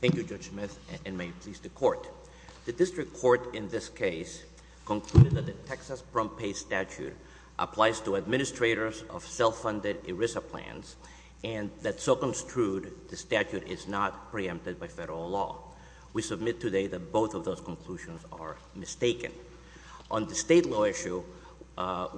Thank you, Judge Smith, and may it please the Court. The District Court in this case concluded that the Texas Prompt Pay Statute applies to administrators of self-funded ERISA plans, and that so construed, the statute is not preempted by federal law. We submit today that both of those conclusions are mistaken. On the state law issue,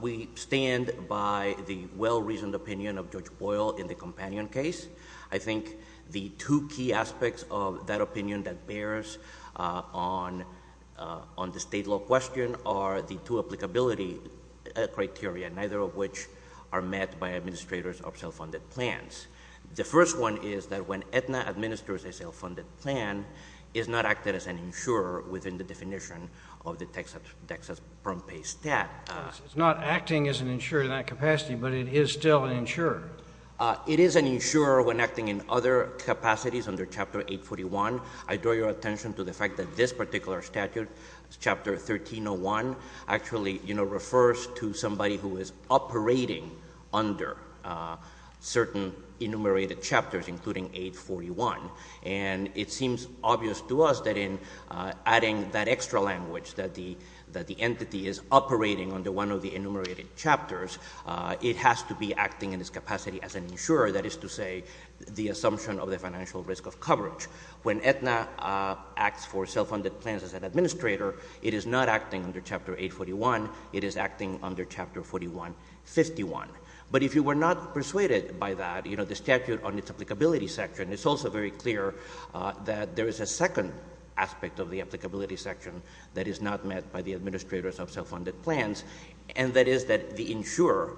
we stand by the well-reasoned opinion of Judge Boyle in the Companion case. I think the two key aspects of that opinion that bears on the state law question are the two applicability criteria, neither of which are met by administrators of self-funded plans. The first one is that when Aetna administers a self-funded plan, it is not acted as an insurer within the definition of the Texas Prompt Pay Stat. It is not acting as an insurer in that capacity, but it is still an insurer. It is an insurer when acting in other capacities under Chapter 841. I draw your attention to the fact that this particular statute, Chapter 1301, actually refers to somebody who is operating under certain enumerated chapters, including 841. And it seems obvious to us that in adding that extra language, that the entity is operating under one of the enumerated chapters, it has to be acting in its capacity as an insurer. That is to say, the assumption of the financial risk of coverage. When Aetna acts for self-funded plans as an administrator, it is not acting under Chapter 841. It is acting under Chapter 4151. But if you were not persuaded by that, you know, the statute on its applicability section, it's also very clear that there is a second aspect of the applicability section that is not met by the administrators of self-funded plans, and that is that the insurer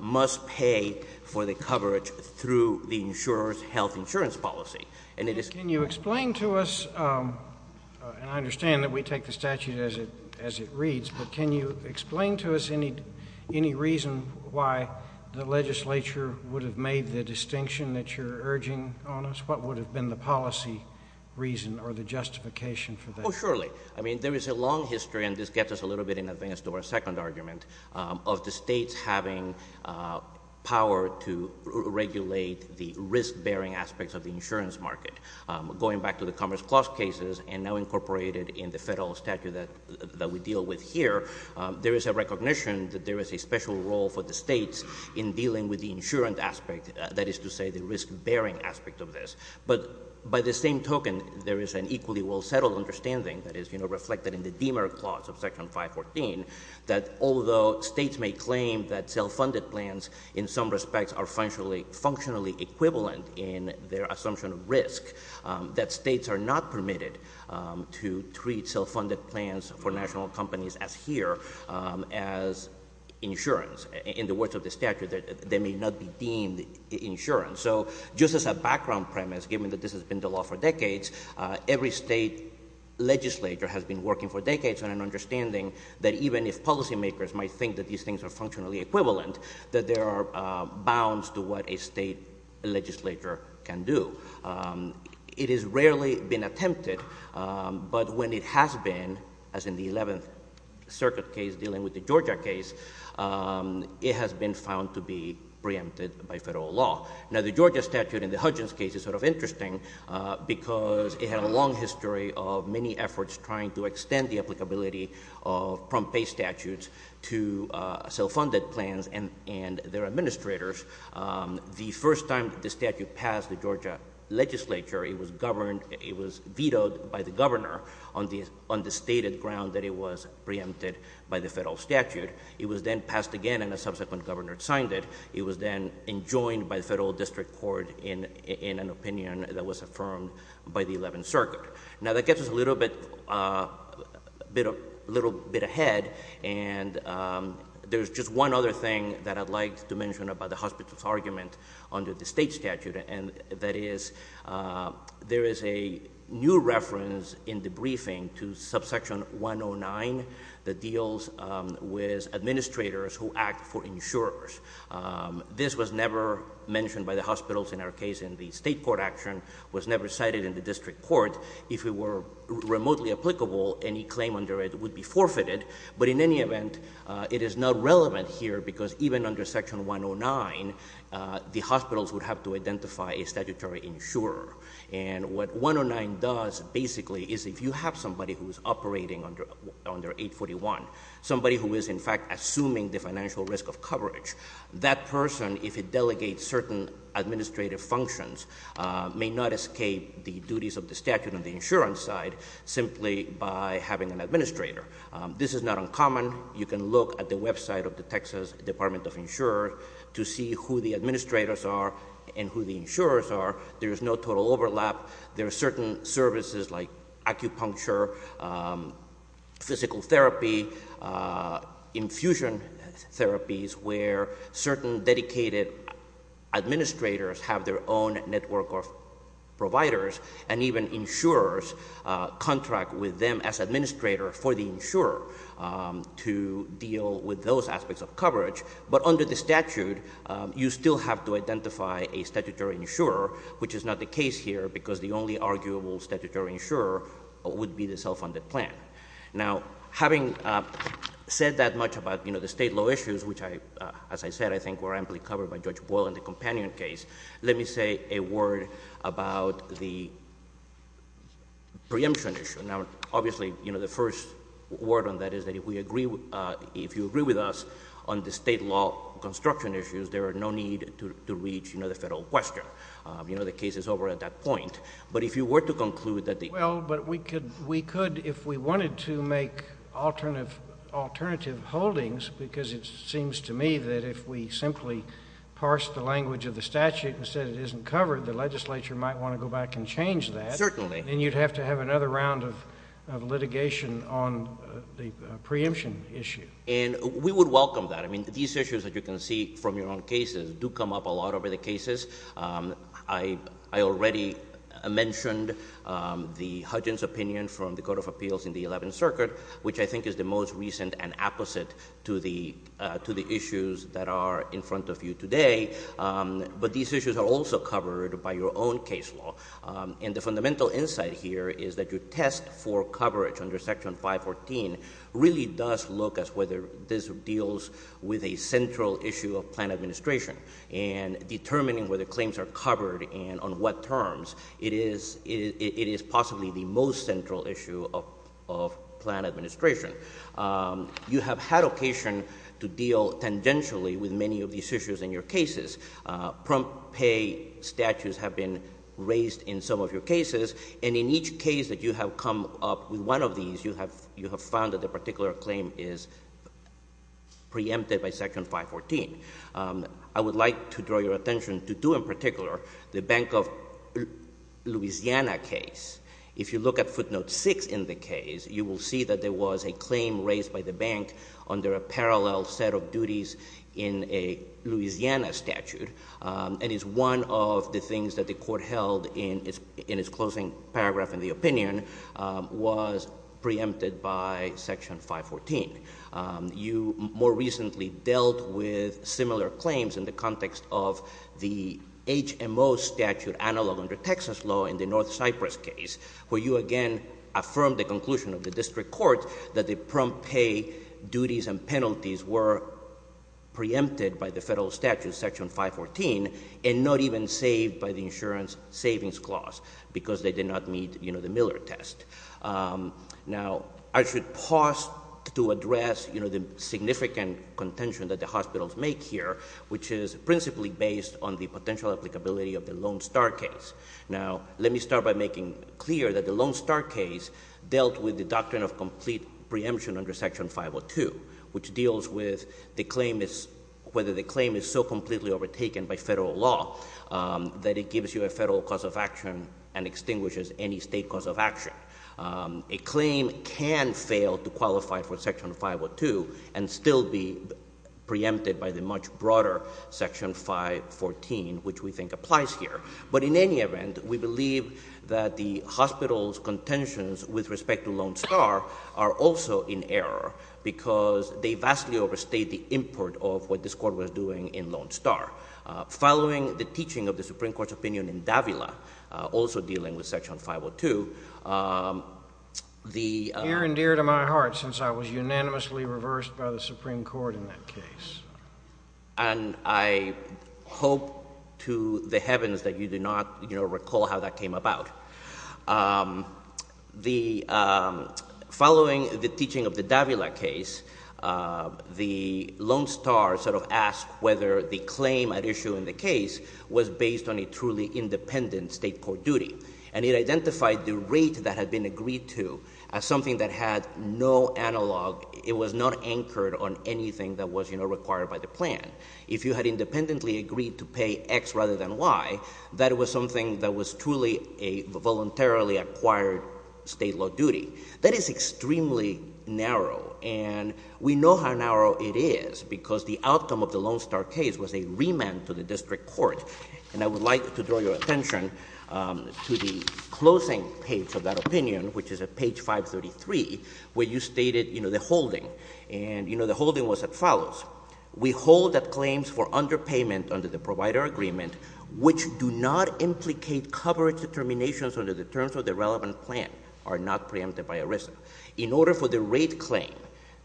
must pay for the coverage through the insurer's health insurance policy. And it is— Can you explain to us, and I understand that we take the statute as it reads, but can you explain to us any reason why the legislature would have made the distinction that you're urging on us? What would have been the policy reason or the justification for that? Oh, surely. I mean, there is a long history, and this gets us a little bit in advance to our second argument, of the states having power to regulate the risk-bearing aspects of the insurance market. Going back to the Commerce Clause cases, and now incorporated in the federal statute that we deal with here, there is a recognition that there is a special role for the states in dealing with the insurance aspect, that is to say, the risk-bearing aspect of this. But by the same token, there is an equally well-settled understanding that is reflected in the Deamer Clause of Section 514, that although states may claim that self-funded plans in some respects are functionally equivalent in their assumption of risk, that states are not permitted to treat self-funded plans for national companies as here, as insurance. In the words of the statute, they may not be deemed insurance. So just as a background premise, given that this has been the law for decades, every state legislature has been working for decades on an understanding that even if policymakers might think that these things are functionally equivalent, that there are bounds to what a state legislature can do. It has rarely been attempted, but when it has been, as in the 11th Circuit case dealing with the Georgia case, it has been found to be preempted by federal law. Now, the Georgia statute in the Hudgens case is sort of interesting because it had a long history of many efforts trying to extend the applicability of prompt pay statutes to self-funded plans and their administrators. The first time the statute passed the Georgia legislature, it was vetoed by the governor on the stated ground that it was preempted by the federal statute. It was then passed again, and a subsequent governor signed it. It was then enjoined by the federal district court in an opinion that was affirmed by the 11th Circuit. Now, that gets us a little bit ahead, and there's just one other thing that I'd like to mention about the hospital's argument under the state statute, and that is there is a new reference in the briefing to subsection 109 that deals with administrators who act for insurers. This was never mentioned by the hospitals in our case, and the state court action was never cited in the district court. If it were remotely applicable, any claim under it would be forfeited, but in any event, it is not relevant here because even under section 109, the hospitals would have to identify a statutory insurer. And what 109 does basically is if you have somebody who's operating under 841, somebody who is, in fact, assuming the financial risk of coverage, that person, if it delegates certain administrative functions, may not escape the duties of the statute on the insurance side simply by having an administrator. This is not uncommon. You can look at the website of the Texas Department of Insurance to see who the administrators are and who the insurers are. There is no total overlap. There are certain services like acupuncture, physical therapy, infusion therapies, where certain dedicated administrators have their own network of providers, and even insurers contract with them as administrator for the insurer to deal with those aspects of coverage. But under the statute, you still have to identify a statutory insurer, which is not the case here because the only arguable statutory insurer would be the self-funded plan. Now, having said that much about the state law issues, which, as I said, I think were amply covered by Judge Boyle in the companion case, let me say a word about the preemption issue. Now, obviously, the first word on that is that if you agree with us on the state law construction issues, there are no need to reach the federal question. You know, the case is over at that point. But if you were to conclude that the... Well, but we could, if we wanted to make alternative holdings, because it seems to me that if we simply parsed the language of the statute and said it isn't covered, the legislature might want to go back and change that. Certainly. And you'd have to have another round of litigation on the preemption issue. And we would welcome that. I mean, these issues that you can see from your own cases do come up a lot over the cases. I already mentioned the Hudgins opinion from the Court of Appeals in the Eleventh Circuit, which I think is the most recent and opposite to the issues that are in front of you today. But these issues are also covered by your own case law. And the fundamental insight here is that your test for coverage under Section 514 really does look as whether this deals with a central issue of plan administration. And determining whether claims are covered and on what terms, it is possibly the most central issue of plan administration. You have had occasion to deal tangentially with many of these issues in your cases. Prompt pay statutes have been raised in some of your cases. And in each case that you have come up with one of these, you have found that the particular claim is preempted by Section 514. I would like to draw your attention to two in particular. The Bank of Louisiana case. If you look at footnote 6 in the case, you will see that there was a claim raised by the bank under a parallel set of duties in a Louisiana statute. And it's one of the things that the Court held in its closing paragraph in the opinion was preempted by Section 514. You more recently dealt with similar claims in the context of the HMO statute analog under Texas law in the North Cypress case, where you again affirmed the conclusion of the District Court that the prompt pay duties and penalties were preempted by the federal statute, Section 514, and not even saved by the insurance savings clause because they did not meet the Miller test. Now, I should pause to address, you know, the significant contention that the hospitals make here, which is principally based on the potential applicability of the Lone Star case. Now, let me start by making clear that the Lone Star case dealt with the doctrine of complete preemption under Section 502, which deals with the claim is, whether the claim is so completely overtaken by federal law that it gives you a federal cause of action and extinguishes any state cause of action. A claim can fail to qualify for Section 502 and still be preempted by the much broader Section 514, which we think applies here. But in any event, we believe that the hospitals' contentions with respect to Lone Star are also in error because they vastly overstate the import of what this Court was doing in Lone Star. Following the teaching of the Supreme Court's opinion in Davila, also dealing with Section 502, the— Dear and dear to my heart, since I was unanimously reversed by the Supreme Court in that case. And I hope to the heavens that you do not, you know, recall how that came about. The—following the teaching of the Davila case, the Lone Star sort of asked whether the claim at issue in the case was based on a truly independent state court duty. And it identified the rate that had been agreed to as something that had no analog. It was not anchored on anything that was, you know, required by the plan. If you had independently agreed to pay X rather than Y, that was something that was truly a voluntarily acquired state law duty. That is extremely narrow. And we know how narrow it is because the outcome of the Lone Star case was a remand to the district court. And I would like to draw your attention to the closing page of that opinion, which is at page 533, where you stated, you know, the holding. And you know, the holding was as follows. We hold that claims for underpayment under the provider agreement, which do not implicate coverage determinations under the terms of the relevant plan, are not preempted by arrest. In order for the rate claim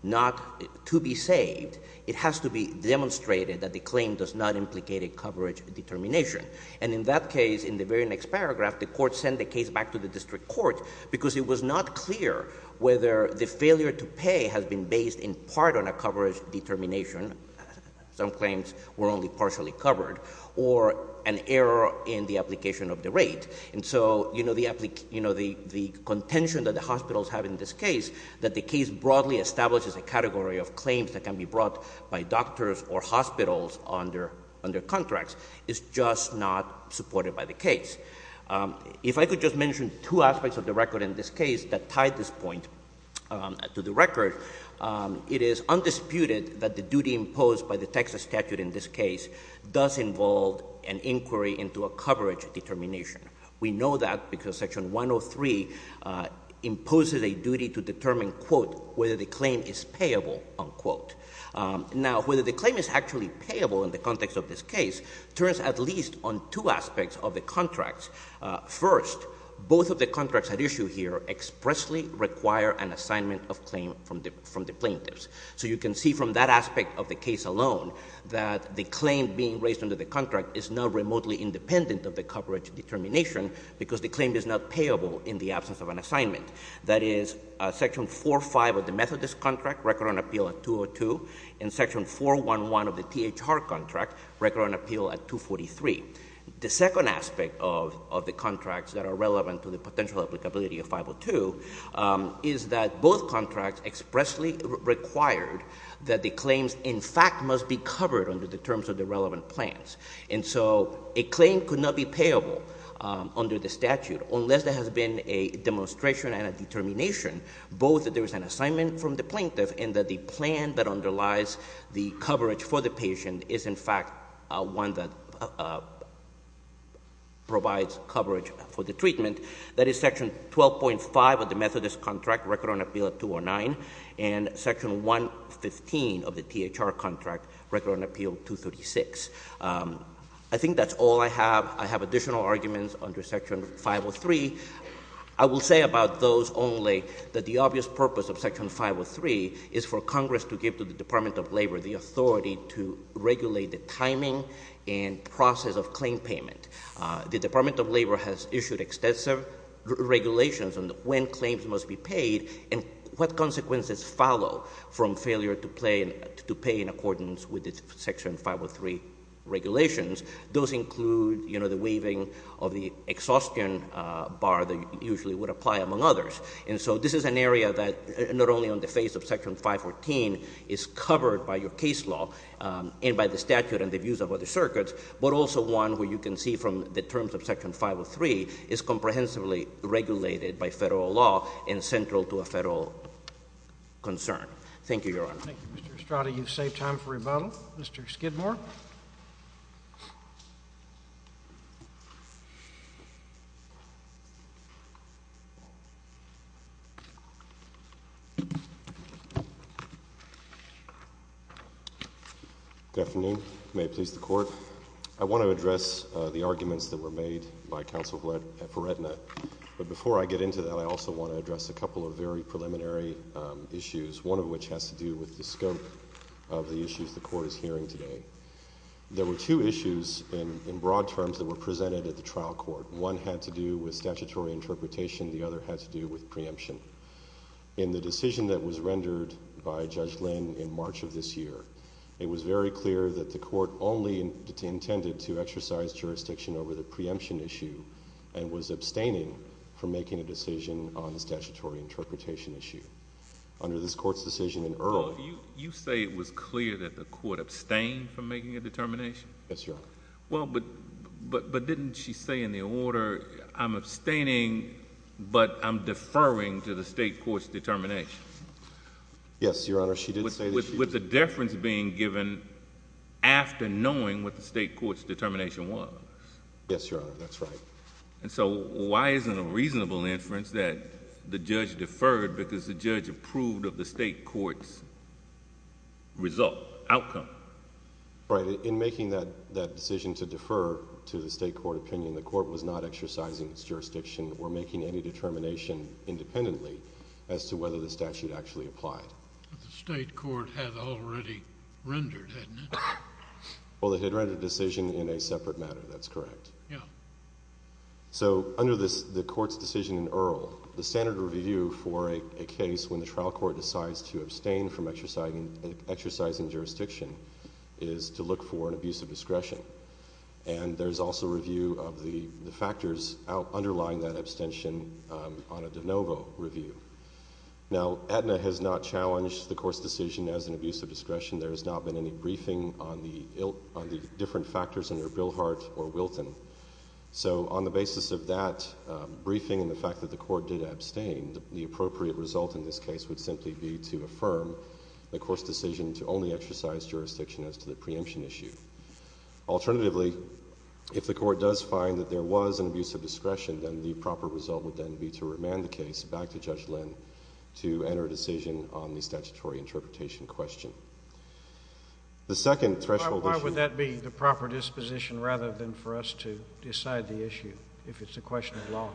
not to be saved, it has to be demonstrated that the claim does not implicate a coverage determination. And in that case, in the very next paragraph, the court sent the case back to the district court because it was not clear whether the failure to pay has been based in part on a coverage determination—some claims were only partially covered—or an error in the application of the rate. And so, you know, the contention that the hospitals have in this case, that the case broadly establishes a category of claims that can be brought by doctors or hospitals under contracts, is just not supported by the case. If I could just mention two aspects of the record in this case that tie this point to the record, it is undisputed that the duty imposed by the Texas statute in this case does involve an inquiry into a coverage determination. We know that because Section 103 imposes a duty to determine, quote, whether the claim is payable, unquote. Now, whether the claim is actually payable in the context of this case turns at least on two aspects of the contracts. First, both of the contracts at issue here expressly require an assignment of claim from the plaintiffs. So you can see from that aspect of the case alone that the claim being raised under the contract is not remotely independent of the coverage determination because the claim is not payable in the absence of an assignment. That is, Section 4.5 of the Methodist contract, record on appeal at 202, and Section 4.1.1 of the THR contract, record on appeal at 243. The second aspect of the contracts that are relevant to the potential applicability of the claims in fact must be covered under the terms of the relevant plans. And so a claim could not be payable under the statute unless there has been a demonstration and a determination both that there is an assignment from the plaintiff and that the plan that underlies the coverage for the patient is in fact one that provides coverage for the treatment. That is, Section 12.5 of the Methodist contract, record on appeal at 209, and Section 1.15 of the THR contract, record on appeal 236. I think that's all I have. I have additional arguments under Section 503. I will say about those only that the obvious purpose of Section 503 is for Congress to give to the Department of Labor the authority to regulate the timing and process of claim payment. The Department of Labor has issued extensive regulations on when claims must be paid and what consequences follow from failure to pay in accordance with the Section 503 regulations. Those include, you know, the waiving of the exhaustion bar that usually would apply among others. And so this is an area that not only on the face of Section 514 is covered by your case law and by the statute and the views of other circuits, but also one where you can see from the terms of Section 503 is comprehensively regulated by federal law and central to a federal concern. Thank you, Your Honor. Thank you, Mr. Estrada. You've saved time for rebuttal. Mr. Skidmore. Good afternoon. May it please the Court. I want to address the arguments that were made by Counsel F. Retina, but before I get into that, I also want to address a couple of very preliminary issues, one of which has to do with the scope of the issues the Court is hearing today. There were two issues in broad terms that were presented at the trial court. One had to do with statutory interpretation, the other had to do with preemption. In the decision that was rendered by Judge Lynn in March of this year, it was very clear that the Court only intended to exercise jurisdiction over the preemption issue and was abstaining from making a decision on the statutory interpretation issue. Under this Court's decision in Earl... Well, you say it was clear that the Court abstained from making a determination? Yes, Your Honor. Well, but didn't she say in the order, I'm abstaining, but I'm deferring to the State Court's determination? Yes, Your Honor. She did say that she... With the deference being given after knowing what the State Court's determination was? Yes, Your Honor. That's right. And so, why is it a reasonable inference that the judge deferred because the judge approved of the State Court's result, outcome? Right. In making that decision to defer to the State Court opinion, the Court was not exercising its jurisdiction or making any determination independently as to whether the statute actually applied. But the State Court had already rendered, hadn't it? Well, it had rendered a decision in a separate matter, that's correct. Yeah. So, under the Court's decision in Earl, the standard review for a case when the trial court decides to abstain from exercising jurisdiction is to look for an abuse of discretion. And there's also review of the factors underlying that abstention on a de novo review. Now, Aetna has not challenged the Court's decision as an abuse of discretion. There has not been any briefing on the different factors under Bilhart or Wilton. So on the basis of that briefing and the fact that the Court did abstain, the appropriate result in this case would simply be to affirm the Court's decision to only exercise jurisdiction as to the preemption issue. Alternatively, if the Court does find that there was an abuse of discretion, then the proper result would then be to remand the case back to Judge Lynn to enter a decision on the statutory interpretation question. The second threshold issue— Why would that be the proper disposition rather than for us to decide the issue if it's a question of law?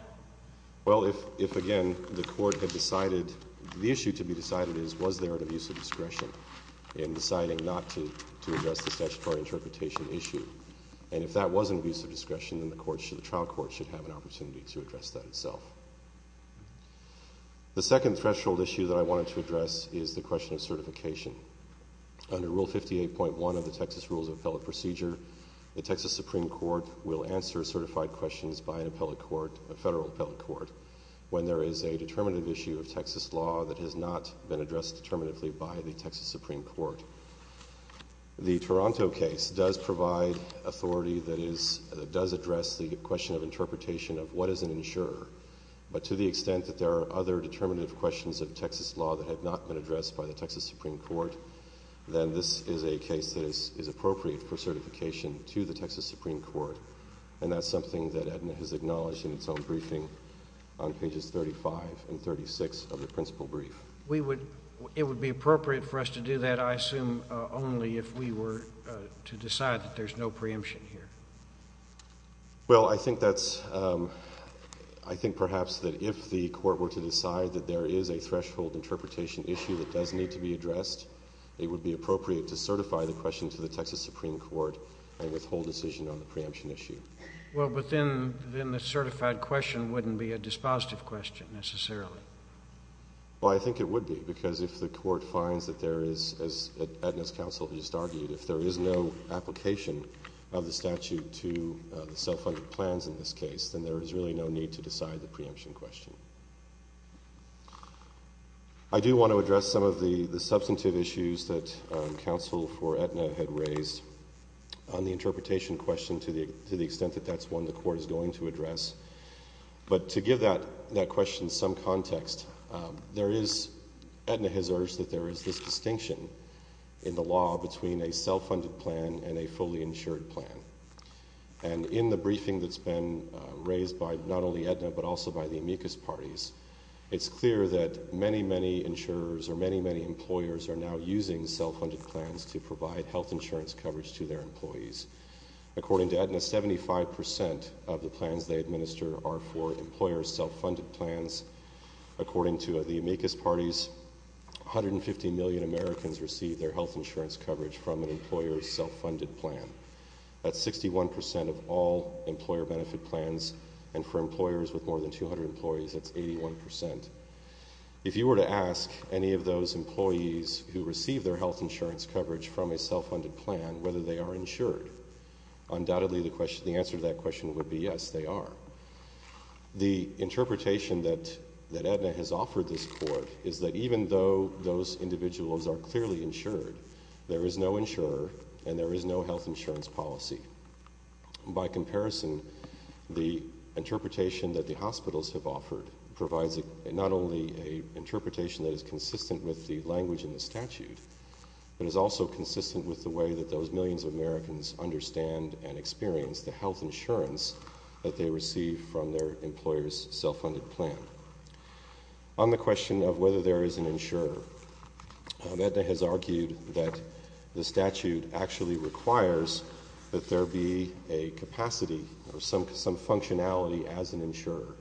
Well, if, again, the Court had decided—the issue to be decided is, was there an abuse of discretion in deciding not to address the statutory interpretation issue? And if that was an abuse of discretion, then the trial court should have an opportunity to address that itself. The second threshold issue that I wanted to address is the question of certification. Under Rule 58.1 of the Texas Rules of Appellate Procedure, the Texas Supreme Court will answer certified questions by an appellate court, a federal appellate court, when there is a determinative issue of Texas law that has not been addressed determinatively by the Texas Supreme Court. The Toronto case does provide authority that does address the question of interpretation of what is an insurer, but to the extent that there are other determinative questions of Texas law that have not been addressed by the Texas Supreme Court, then this is a case that is appropriate for certification to the Texas Supreme Court, and that's something that Aetna has acknowledged in its own briefing on pages 35 and 36 of the principal brief. It would be appropriate for us to do that, I assume, only if we were to decide that there's no preemption here. Well, I think that's, I think perhaps that if the Court were to decide that there is a threshold interpretation issue that does need to be addressed, it would be appropriate to certify the question to the Texas Supreme Court and withhold decision on the preemption issue. Well, but then the certified question wouldn't be a dispositive question, necessarily. Well, I think it would be, because if the Court finds that there is, as Aetna's counsel just argued, if there is no application of the statute to the self-funded plans in this case, then there is really no need to decide the preemption question. I do want to address some of the substantive issues that counsel for Aetna had raised on the interpretation question to the extent that that's one the Court is going to address, but to give that question some context, there is, Aetna has urged that there is this distinction in the law between a self-funded plan and a fully insured plan. And in the briefing that's been raised by not only Aetna, but also by the amicus parties, it's clear that many, many insurers or many, many employers are now using self-funded plans to provide health insurance coverage to their employees. According to Aetna, 75% of the plans they administer are for employer self-funded plans. According to the amicus parties, 150 million Americans receive their health insurance coverage from an employer's self-funded plan. That's 61% of all employer benefit plans, and for employers with more than 200 employees, that's 81%. If you were to ask any of those employees who receive their health insurance coverage from a self-funded plan whether they are insured, undoubtedly the answer to that question would be yes, they are. The interpretation that Aetna has offered this court is that even though those individuals are clearly insured, there is no insurer and there is no health insurance policy. By comparison, the interpretation that the hospitals have offered provides not only an interpretation that is consistent with the language in the statute, but is also consistent with the way that those millions of Americans understand and experience the health insurance plans that they receive from their employer's self-funded plan. On the question of whether there is an insurer, Aetna has argued that the statute actually requires that there be a capacity or some functionality as an insurer.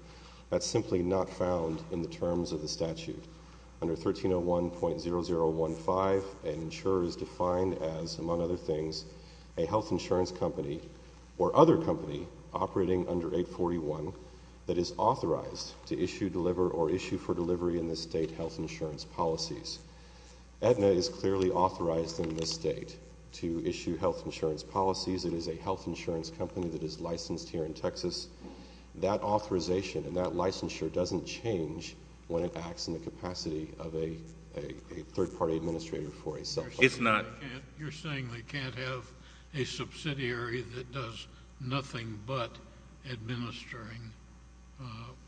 That's simply not found in the terms of the statute. Under 1301.0015, an insurer is defined as, among other things, a health insurance company or other company operating under 841 that is authorized to issue, deliver, or issue for delivery in the state health insurance policies. Aetna is clearly authorized in this state to issue health insurance policies. It is a health insurance company that is licensed here in Texas. That authorization and that licensure doesn't change when it acts in the capacity of a third party administrator for a self-funded plan. It's not. You're saying they can't have a subsidiary that does nothing but administering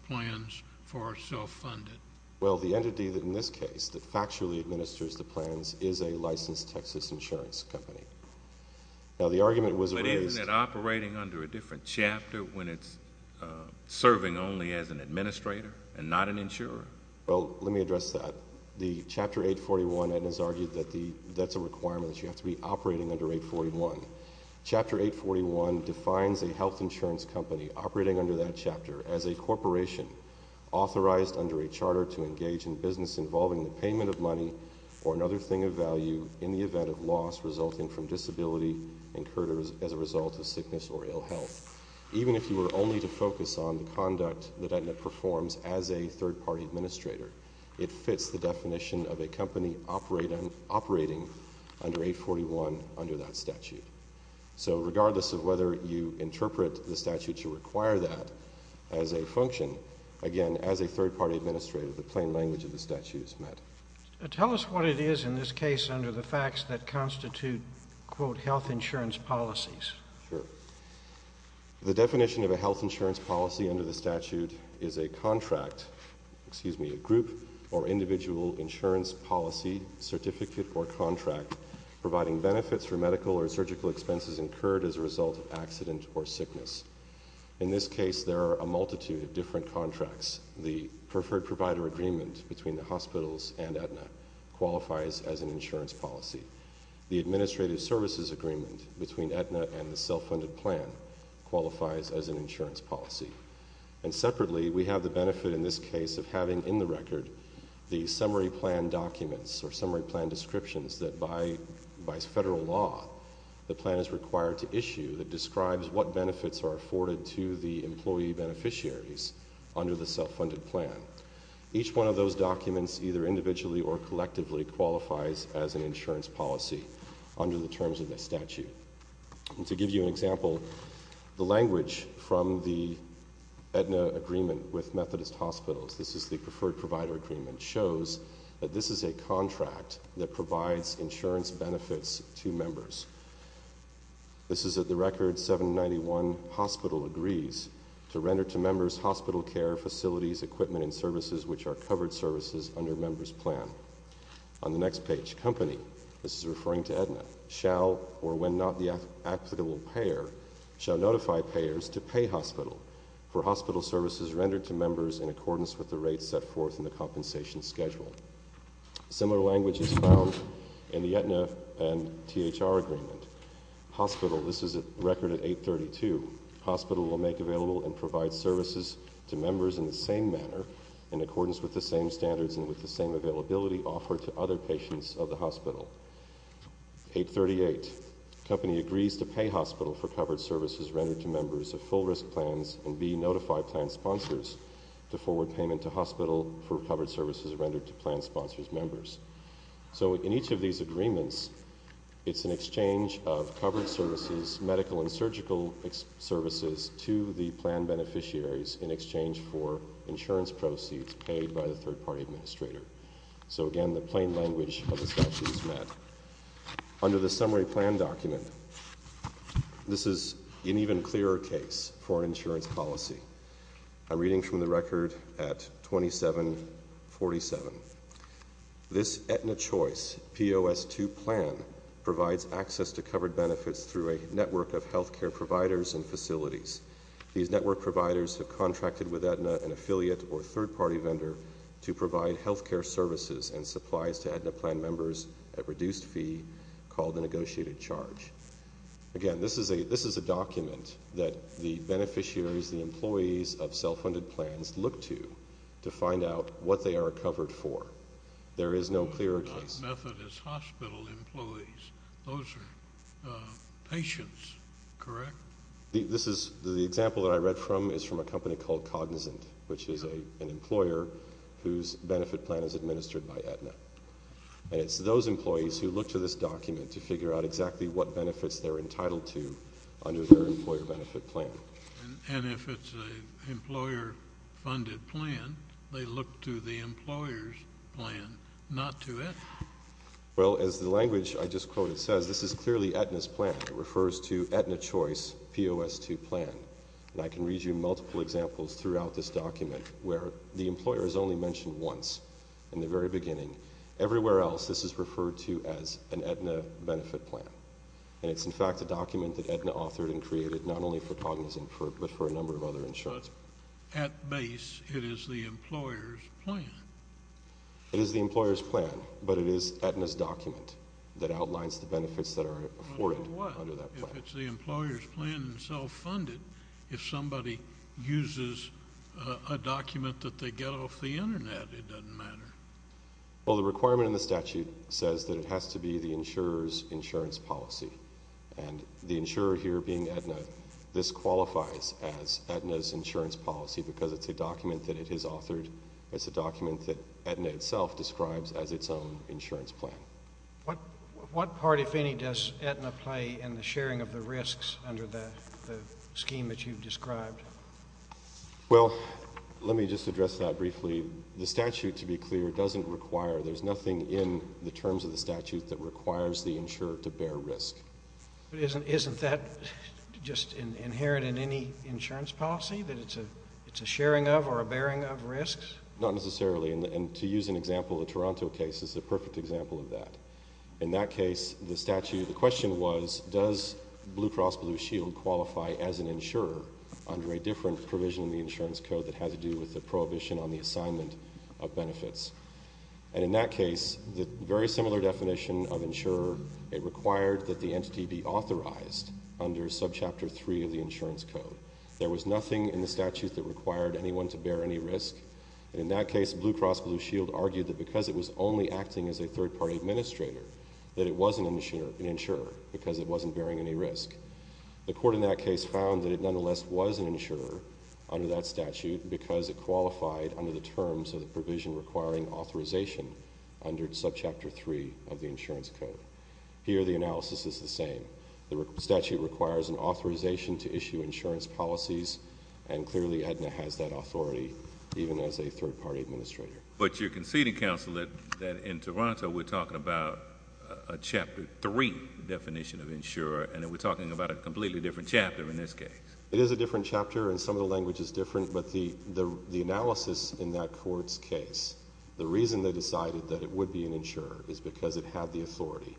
plans for a self-funded. Well, the entity that in this case that factually administers the plans is a licensed Texas insurance company. Now, the argument was raised- But isn't it operating under a different chapter when it's serving only as an administrator and not an insurer? Well, let me address that. Chapter 841, Aetna's argued that that's a requirement that you have to be operating under 841. Chapter 841 defines a health insurance company operating under that chapter as a corporation authorized under a charter to engage in business involving the payment of money or another thing of value in the event of loss resulting from disability incurred as a result of sickness or ill health. Even if you were only to focus on the conduct that Aetna performs as a third party administrator, it fits the definition of a company operating under 841 under that statute. So regardless of whether you interpret the statute to require that as a function, again, as a third party administrator, the plain language of the statute is met. Tell us what it is in this case under the facts that constitute, quote, health insurance policies. Sure. The definition of a health insurance policy under the statute is a contract, excuse me, a group or individual insurance policy certificate or contract providing benefits for medical or surgical expenses incurred as a result of accident or sickness. In this case, there are a multitude of different contracts. The preferred provider agreement between the hospitals and Aetna qualifies as an insurance policy. The administrative services agreement between Aetna and the self-funded plan qualifies as an insurance policy. And separately, we have the benefit in this case of having in the record the summary plan documents or summary plan descriptions that by federal law, the plan is required to issue that describes what benefits are afforded to the employee beneficiaries under the self-funded plan. Each one of those documents either individually or collectively qualifies as an insurance policy under the terms of the statute. And to give you an example, the language from the Aetna agreement with Methodist Hospitals, this is the preferred provider agreement, shows that this is a contract that provides insurance benefits to members. This is at the record 791 hospital agrees to render to members hospital care, facilities, equipment and services which are covered services under members plan. On the next page, company, this is referring to Aetna, shall or when not the applicable payer shall notify payers to pay hospital for hospital services rendered to members in accordance with the rates set forth in the compensation schedule. Similar language is found in the Aetna and THR agreement. Hospital, this is a record at 832. Hospital will make available and provide services to members in the same manner, in accordance with the same standards and with the same availability offered to other patients of the hospital. 838, company agrees to pay hospital for covered services rendered to members of full risk plans and the notify plan sponsors to forward payment to hospital for covered services rendered to plan sponsors members. So in each of these agreements, it's an exchange of covered services, medical and surgical services to the plan beneficiaries in exchange for insurance proceeds paid by the third party administrator. So again, the plain language of the statute is met. Under the summary plan document, this is an even clearer case for insurance policy. I'm reading from the record at 2747. This Aetna Choice POS2 plan provides access to covered benefits through a network of healthcare providers and facilities. These network providers have contracted with Aetna, an affiliate or third party vendor, to provide healthcare services and supplies to Aetna plan members at reduced fee called a negotiated charge. Again, this is a document that the beneficiaries, the employees of self-funded plans, look to to find out what they are covered for. There is no clearer case. Methodist hospital employees, those are patients, correct? This is, the example that I read from is from a company called Cognizant, which is an employer whose benefit plan is administered by Aetna. And it's those employees who look to this document to figure out exactly what benefits they're entitled to under their employer benefit plan. And if it's an employer funded plan, they look to the employer's plan, not to Aetna. Well, as the language I just quoted says, this is clearly Aetna's plan. It refers to Aetna Choice POS2 plan. And I can read you multiple examples throughout this document where the employer is only mentioned once in the very beginning. Everywhere else, this is referred to as an Aetna benefit plan. And it's in fact a document that Aetna authored and created, not only for Cognizant, but for a number of other insurers. At base, it is the employer's plan. It is the employer's plan, but it is Aetna's document that outlines the benefits that are afforded under that plan. If it's the employer's plan and self-funded, if somebody uses a document that they get off the Internet, it doesn't matter. Well, the requirement in the statute says that it has to be the insurer's insurance policy. And the insurer here being Aetna, this qualifies as Aetna's insurance policy because it's a document that it is authored. It's a document that Aetna itself describes as its own insurance plan. What part, if any, does Aetna play in the sharing of the risks under the scheme that you've described? Well, let me just address that briefly. The statute, to be clear, doesn't require, there's nothing in the terms of the statute that requires the insurer to bear risk. But isn't that just inherent in any insurance policy, that it's a sharing of or a bearing of risks? Not necessarily, and to use an example, the Toronto case is a perfect example of that. In that case, the question was, does Blue Cross Blue Shield qualify as an insurer under a different provision in the insurance code that has to do with the prohibition on the assignment of benefits? And in that case, the very similar definition of insurer, it required that the entity be authorized under subchapter three of the insurance code. There was nothing in the statute that required anyone to bear any risk. In that case, Blue Cross Blue Shield argued that because it was only acting as a third party administrator, that it wasn't an insurer because it wasn't bearing any risk. The court in that case found that it nonetheless was an insurer under that statute because it qualified under the terms of the provision requiring authorization under subchapter three of the insurance code. Here, the analysis is the same. The statute requires an authorization to issue insurance policies, and clearly, AEDNA has that authority, even as a third party administrator. But you're conceding, counsel, that in Toronto, we're talking about a chapter three definition of insurer, and that we're talking about a completely different chapter in this case. It is a different chapter, and some of the language is different, but the analysis in that court's case, the reason they decided that it would be an insurer is because it had the authority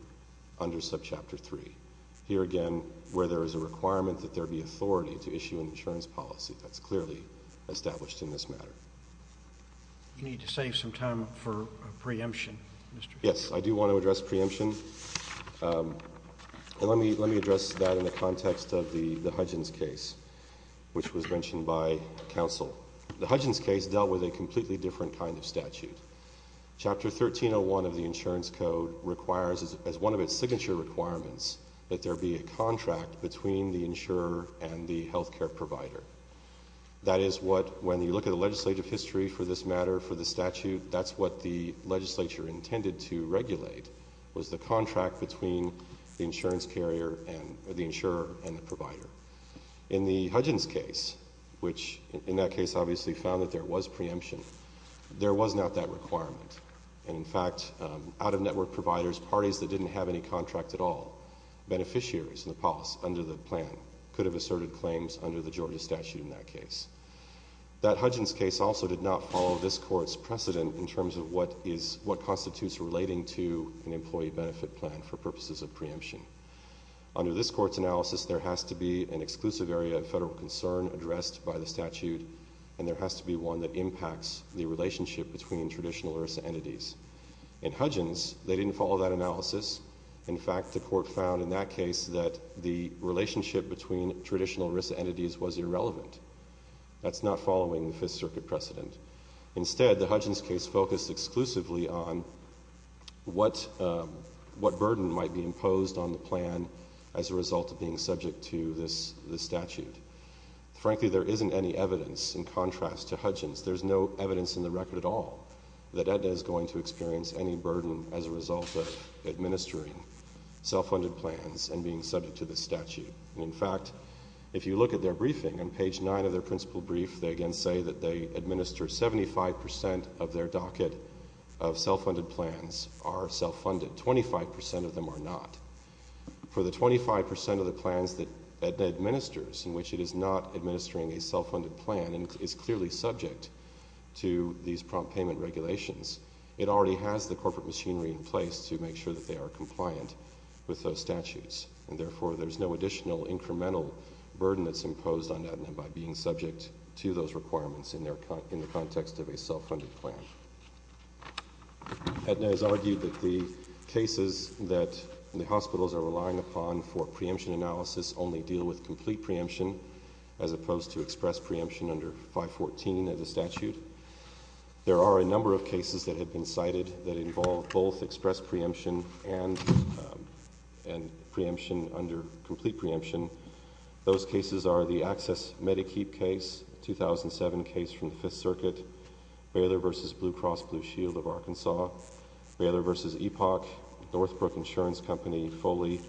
under subchapter three. Here again, where there is a requirement that there be authority to issue an insurance policy. That's clearly established in this matter. You need to save some time for a preemption, Mr. Yes, I do want to address preemption. And let me address that in the context of the Hudgens case, which was mentioned by counsel. The Hudgens case dealt with a completely different kind of statute. Chapter 1301 of the insurance code requires, as one of its signature requirements, that there be a contract between the insurer and the healthcare provider. That is what, when you look at the legislative history for this matter, for the statute, that's what the legislature intended to regulate, was the contract between the insurance carrier, or the insurer, and the provider. In the Hudgens case, which in that case obviously found that there was preemption, there was not that requirement. And in fact, out of network providers, parties that didn't have any contract at all, beneficiaries in the POS under the plan could have asserted claims under the Georgia statute in that case. That Hudgens case also did not follow this court's precedent in terms of what constitutes relating to an employee benefit plan for purposes of preemption. Under this court's analysis, there has to be an exclusive area of federal concern addressed by the statute. And there has to be one that impacts the relationship between traditional RISA entities. In Hudgens, they didn't follow that analysis. In fact, the court found in that case that the relationship between traditional RISA entities was irrelevant. That's not following the Fifth Circuit precedent. Instead, the Hudgens case focused exclusively on what burden might be imposed on the plan as a result of being subject to this statute. Frankly, there isn't any evidence in contrast to Hudgens. There's no evidence in the record at all that Edna is going to experience any burden as a result of administering self-funded plans and being subject to the statute. In fact, if you look at their briefing on page nine of their principal brief, they again say that they administer 75% of their docket of self-funded plans are self-funded. 25% of them are not. For the 25% of the plans that Edna administers, in which it is not administering a self-funded plan, and is clearly subject to these prompt payment regulations, it already has the corporate machinery in place to make sure that they are compliant with those statutes. And therefore, there's no additional incremental burden that's imposed on Edna by being subject to those requirements in the context of a self-funded plan. Edna has argued that the cases that the hospitals are relying upon for their 514 of the statute, there are a number of cases that have been cited that involve both express preemption and preemption under complete preemption. Those cases are the access Medicaid case, 2007 case from the Fifth Circuit. Baylor versus Blue Cross Blue Shield of Arkansas. Baylor versus Epoch, Northbrook Insurance Company, Foley.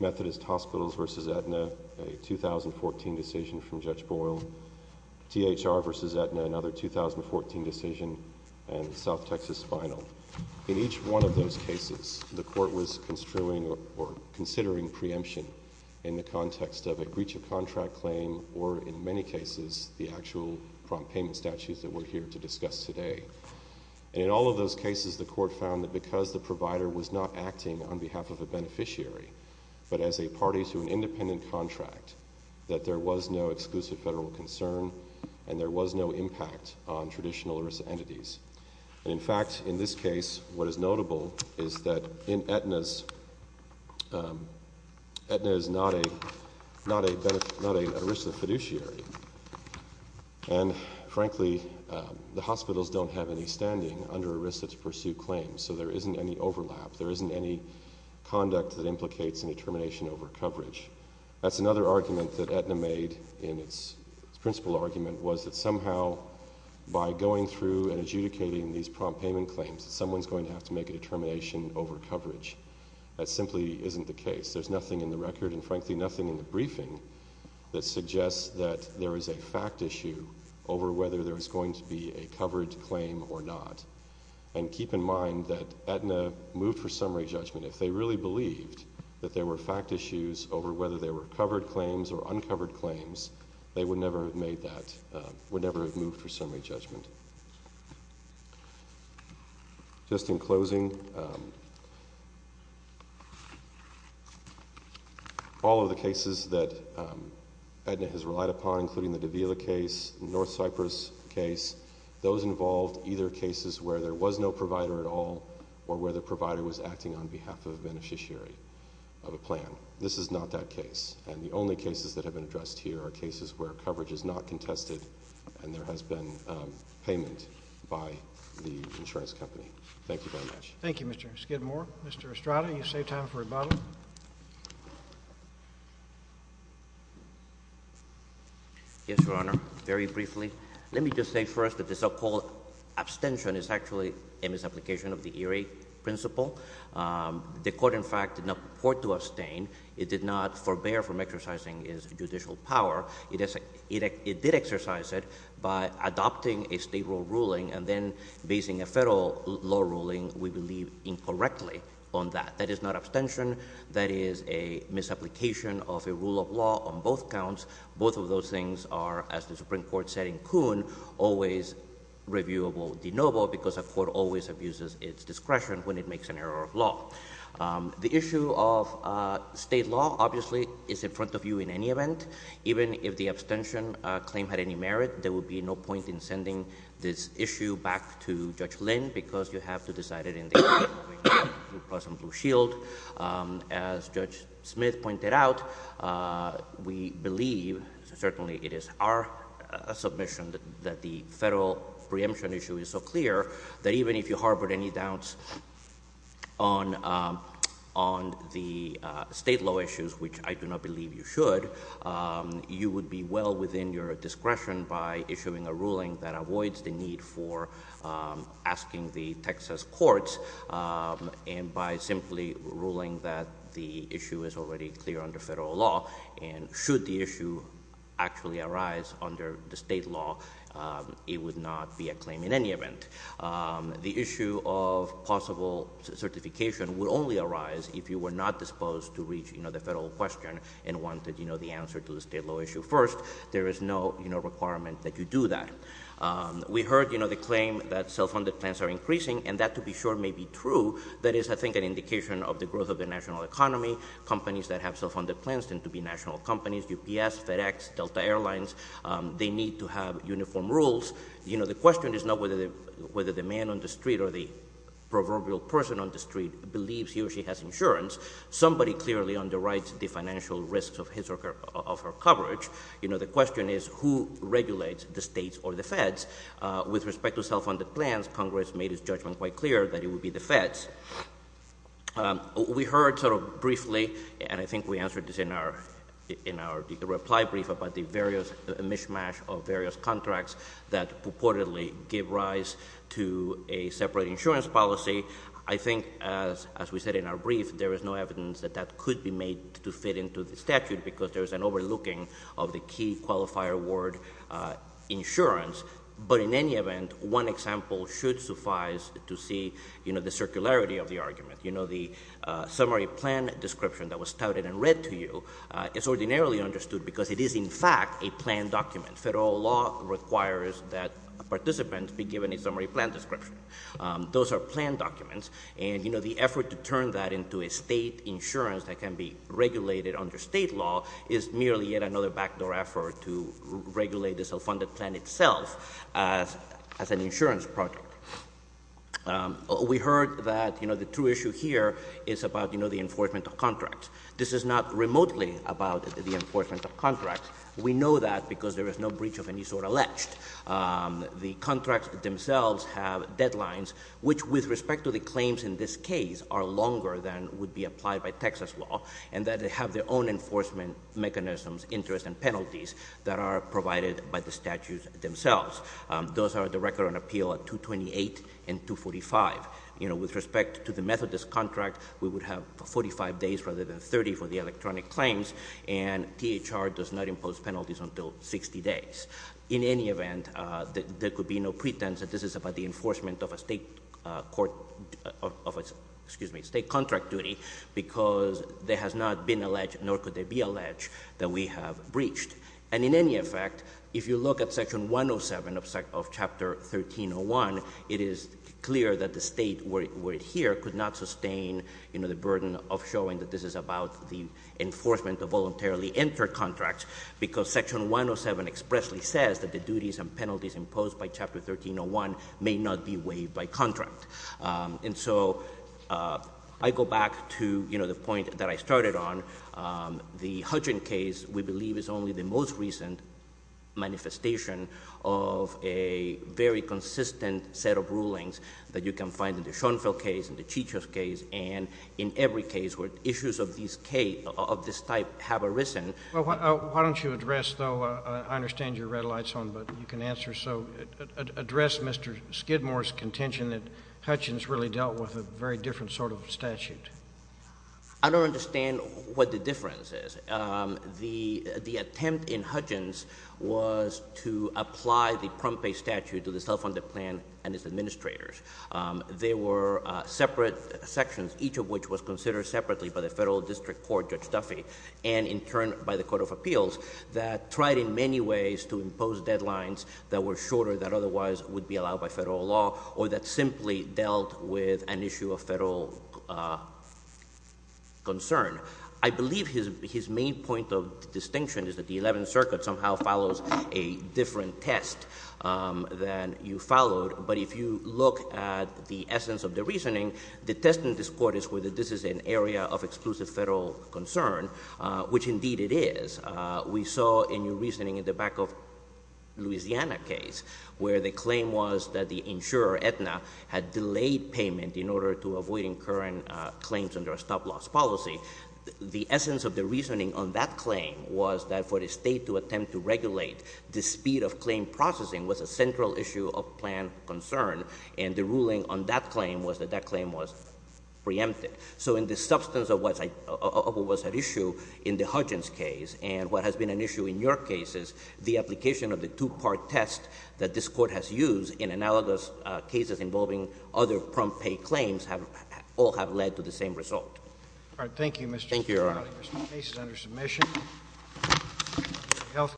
Methodist Hospitals versus Edna, a 2014 decision from Judge Boyle. THR versus Edna, another 2014 decision, and South Texas Spinal. In each one of those cases, the court was construing or considering preemption in the context of a breach of contract claim, or in many cases, the actual prompt payment statutes that we're here to discuss today. And in all of those cases, the court found that because the provider was not acting on behalf of a beneficiary, but as a party to an independent contract, that there was no exclusive federal concern, and there was no impact on traditional ERISA entities. And in fact, in this case, what is notable is that in Edna's, Edna is not a ERISA fiduciary, and frankly, the hospitals don't have any standing under ERISA to pursue claims, so there isn't any overlap. There isn't any conduct that implicates a determination over coverage. That's another argument that Edna made in its principle argument was that somehow, by going through and adjudicating these prompt payment claims, someone's going to have to make a determination over coverage. That simply isn't the case. There's nothing in the record, and frankly, nothing in the briefing that suggests that there is a fact issue over whether there is going to be a coverage claim or not. And keep in mind that Edna moved for summary judgment. If they really believed that there were fact issues over whether they were covered claims or uncovered claims, they would never have made that, would never have moved for summary judgment. Just in closing, all of the cases that Edna has relied upon, including the Davila case, North Cyprus case, those involved, either cases where there was no provider at all, or where the provider was acting on behalf of a beneficiary of a plan. This is not that case. And the only cases that have been addressed here are cases where coverage is not contested, and there has been payment by the insurance company. Thank you very much. Thank you, Mr. Skidmore. Mr. Estrada, you save time for rebuttal. Yes, Your Honor, very briefly. Let me just say first that the so-called abstention is actually a misapplication of the ERA principle. The court, in fact, did not purport to abstain. It did not forbear from exercising its judicial power. It did exercise it by adopting a state rule ruling and then basing a federal law ruling, we believe, incorrectly on that. That is not abstention. That is a misapplication of a rule of law on both counts. Both of those things are, as the Supreme Court said in Kuhn, always reviewable, denoble, because a court always abuses its discretion when it makes an error of law. The issue of state law, obviously, is in front of you in any event. Even if the abstention claim had any merit, there would be no point in sending this issue back to Judge Lynn because you have to decide it in the case of Blue Cross and Blue Shield. As Judge Smith pointed out, we believe, certainly it is our submission, that the federal preemption issue is so clear that even if you harbored any doubts on the state law issues, which I do not believe you should, you would be well within your discretion by issuing a ruling that avoids the need for asking the Texas courts and by simply ruling that the issue is already clear under federal law. And should the issue actually arise under the state law, it would not be a claim in any event. The issue of possible certification would only arise if you were not disposed to reach the federal question and wanted the answer to the state law issue first. There is no requirement that you do that. We heard the claim that self-funded plans are increasing, and that to be sure may be true. That is, I think, an indication of the growth of the national economy. Companies that have self-funded plans tend to be national companies, UPS, FedEx, Delta Airlines. They need to have uniform rules. The question is not whether the man on the street or the proverbial person on the street believes he or she has insurance. Somebody clearly underwrites the financial risks of his or her coverage. The question is, who regulates, the states or the feds? With respect to self-funded plans, Congress made its judgment quite clear that it would be the feds. We heard sort of briefly, and I think we answered this in our reply brief about the various mishmash of various contracts that purportedly give rise to a separate insurance policy. I think, as we said in our brief, there is no evidence that that could be made to fit into the statute, because there is an overlooking of the key qualifier word, insurance. But in any event, one example should suffice to see the circularity of the argument. The summary plan description that was touted and read to you is ordinarily understood, because it is, in fact, a planned document. Federal law requires that participants be given a summary plan description. Those are planned documents, and the effort to turn that into a state insurance that can be regulated under state law is merely yet another backdoor effort to regulate the self-funded plan itself as an insurance project. We heard that the true issue here is about the enforcement of contracts. This is not remotely about the enforcement of contracts. We know that because there is no breach of any sort alleged. The contracts themselves have deadlines, which with respect to the claims in this case, are longer than would be applied by Texas law, and that they have their own enforcement mechanisms, interest, and penalties that are provided by the statutes themselves. Those are the record on appeal at 228 and 245. With respect to the Methodist contract, we would have 45 days rather than 30 for the electronic claims, and THR does not impose penalties until 60 days. In any event, there could be no pretense that this is about the enforcement of a state court, of a, excuse me, state contract duty, because there has not been alleged, nor could there be alleged that we have breached. And in any effect, if you look at section 107 of chapter 1301, it is clear that the state word here could not sustain the burden of showing that this is about the enforcement of voluntarily entered contracts. Because section 107 expressly says that the duties and penalties imposed by chapter 1301 may not be waived by contract. And so, I go back to the point that I started on. The Hutchins case, we believe, is only the most recent manifestation of a very consistent set of rulings that you can find in the Schoenfeld case, in the Chichos case, and in every case where issues of this type have arisen. Well, why don't you address, though, I understand you're red lights on, but you can answer. So, address Mr. Skidmore's contention that Hutchins really dealt with a very different sort of statute. I don't understand what the difference is. The attempt in Hutchins was to apply the Pompei statute to the self-funded plan and its administrators. They were separate sections, each of which was considered separately by the federal district court, Judge Duffy. And in turn, by the Court of Appeals, that tried in many ways to impose deadlines that were shorter, that otherwise would be allowed by federal law, or that simply dealt with an issue of federal concern. I believe his main point of distinction is that the 11th Circuit somehow follows a different test than you followed. But if you look at the essence of the reasoning, the test in this court is whether this is an area of exclusive federal concern, which indeed it is. We saw a new reasoning in the back of Louisiana case, where the claim was that the insurer, Aetna, had delayed payment in order to avoid incurring claims under a stop loss policy. The essence of the reasoning on that claim was that for the state to attempt to regulate the speed of claim processing was a central issue of plan concern. And the ruling on that claim was that that claim was preempted. So in the substance of what was at issue in the Hudgens case, and what has been an issue in your cases, the application of the two-part test that this court has used in analogous cases involving other prompt pay claims all have led to the same result. All right, thank you, Mr. Sotomayor. Thank you, Your Honor. This case is under submission. Thank you. House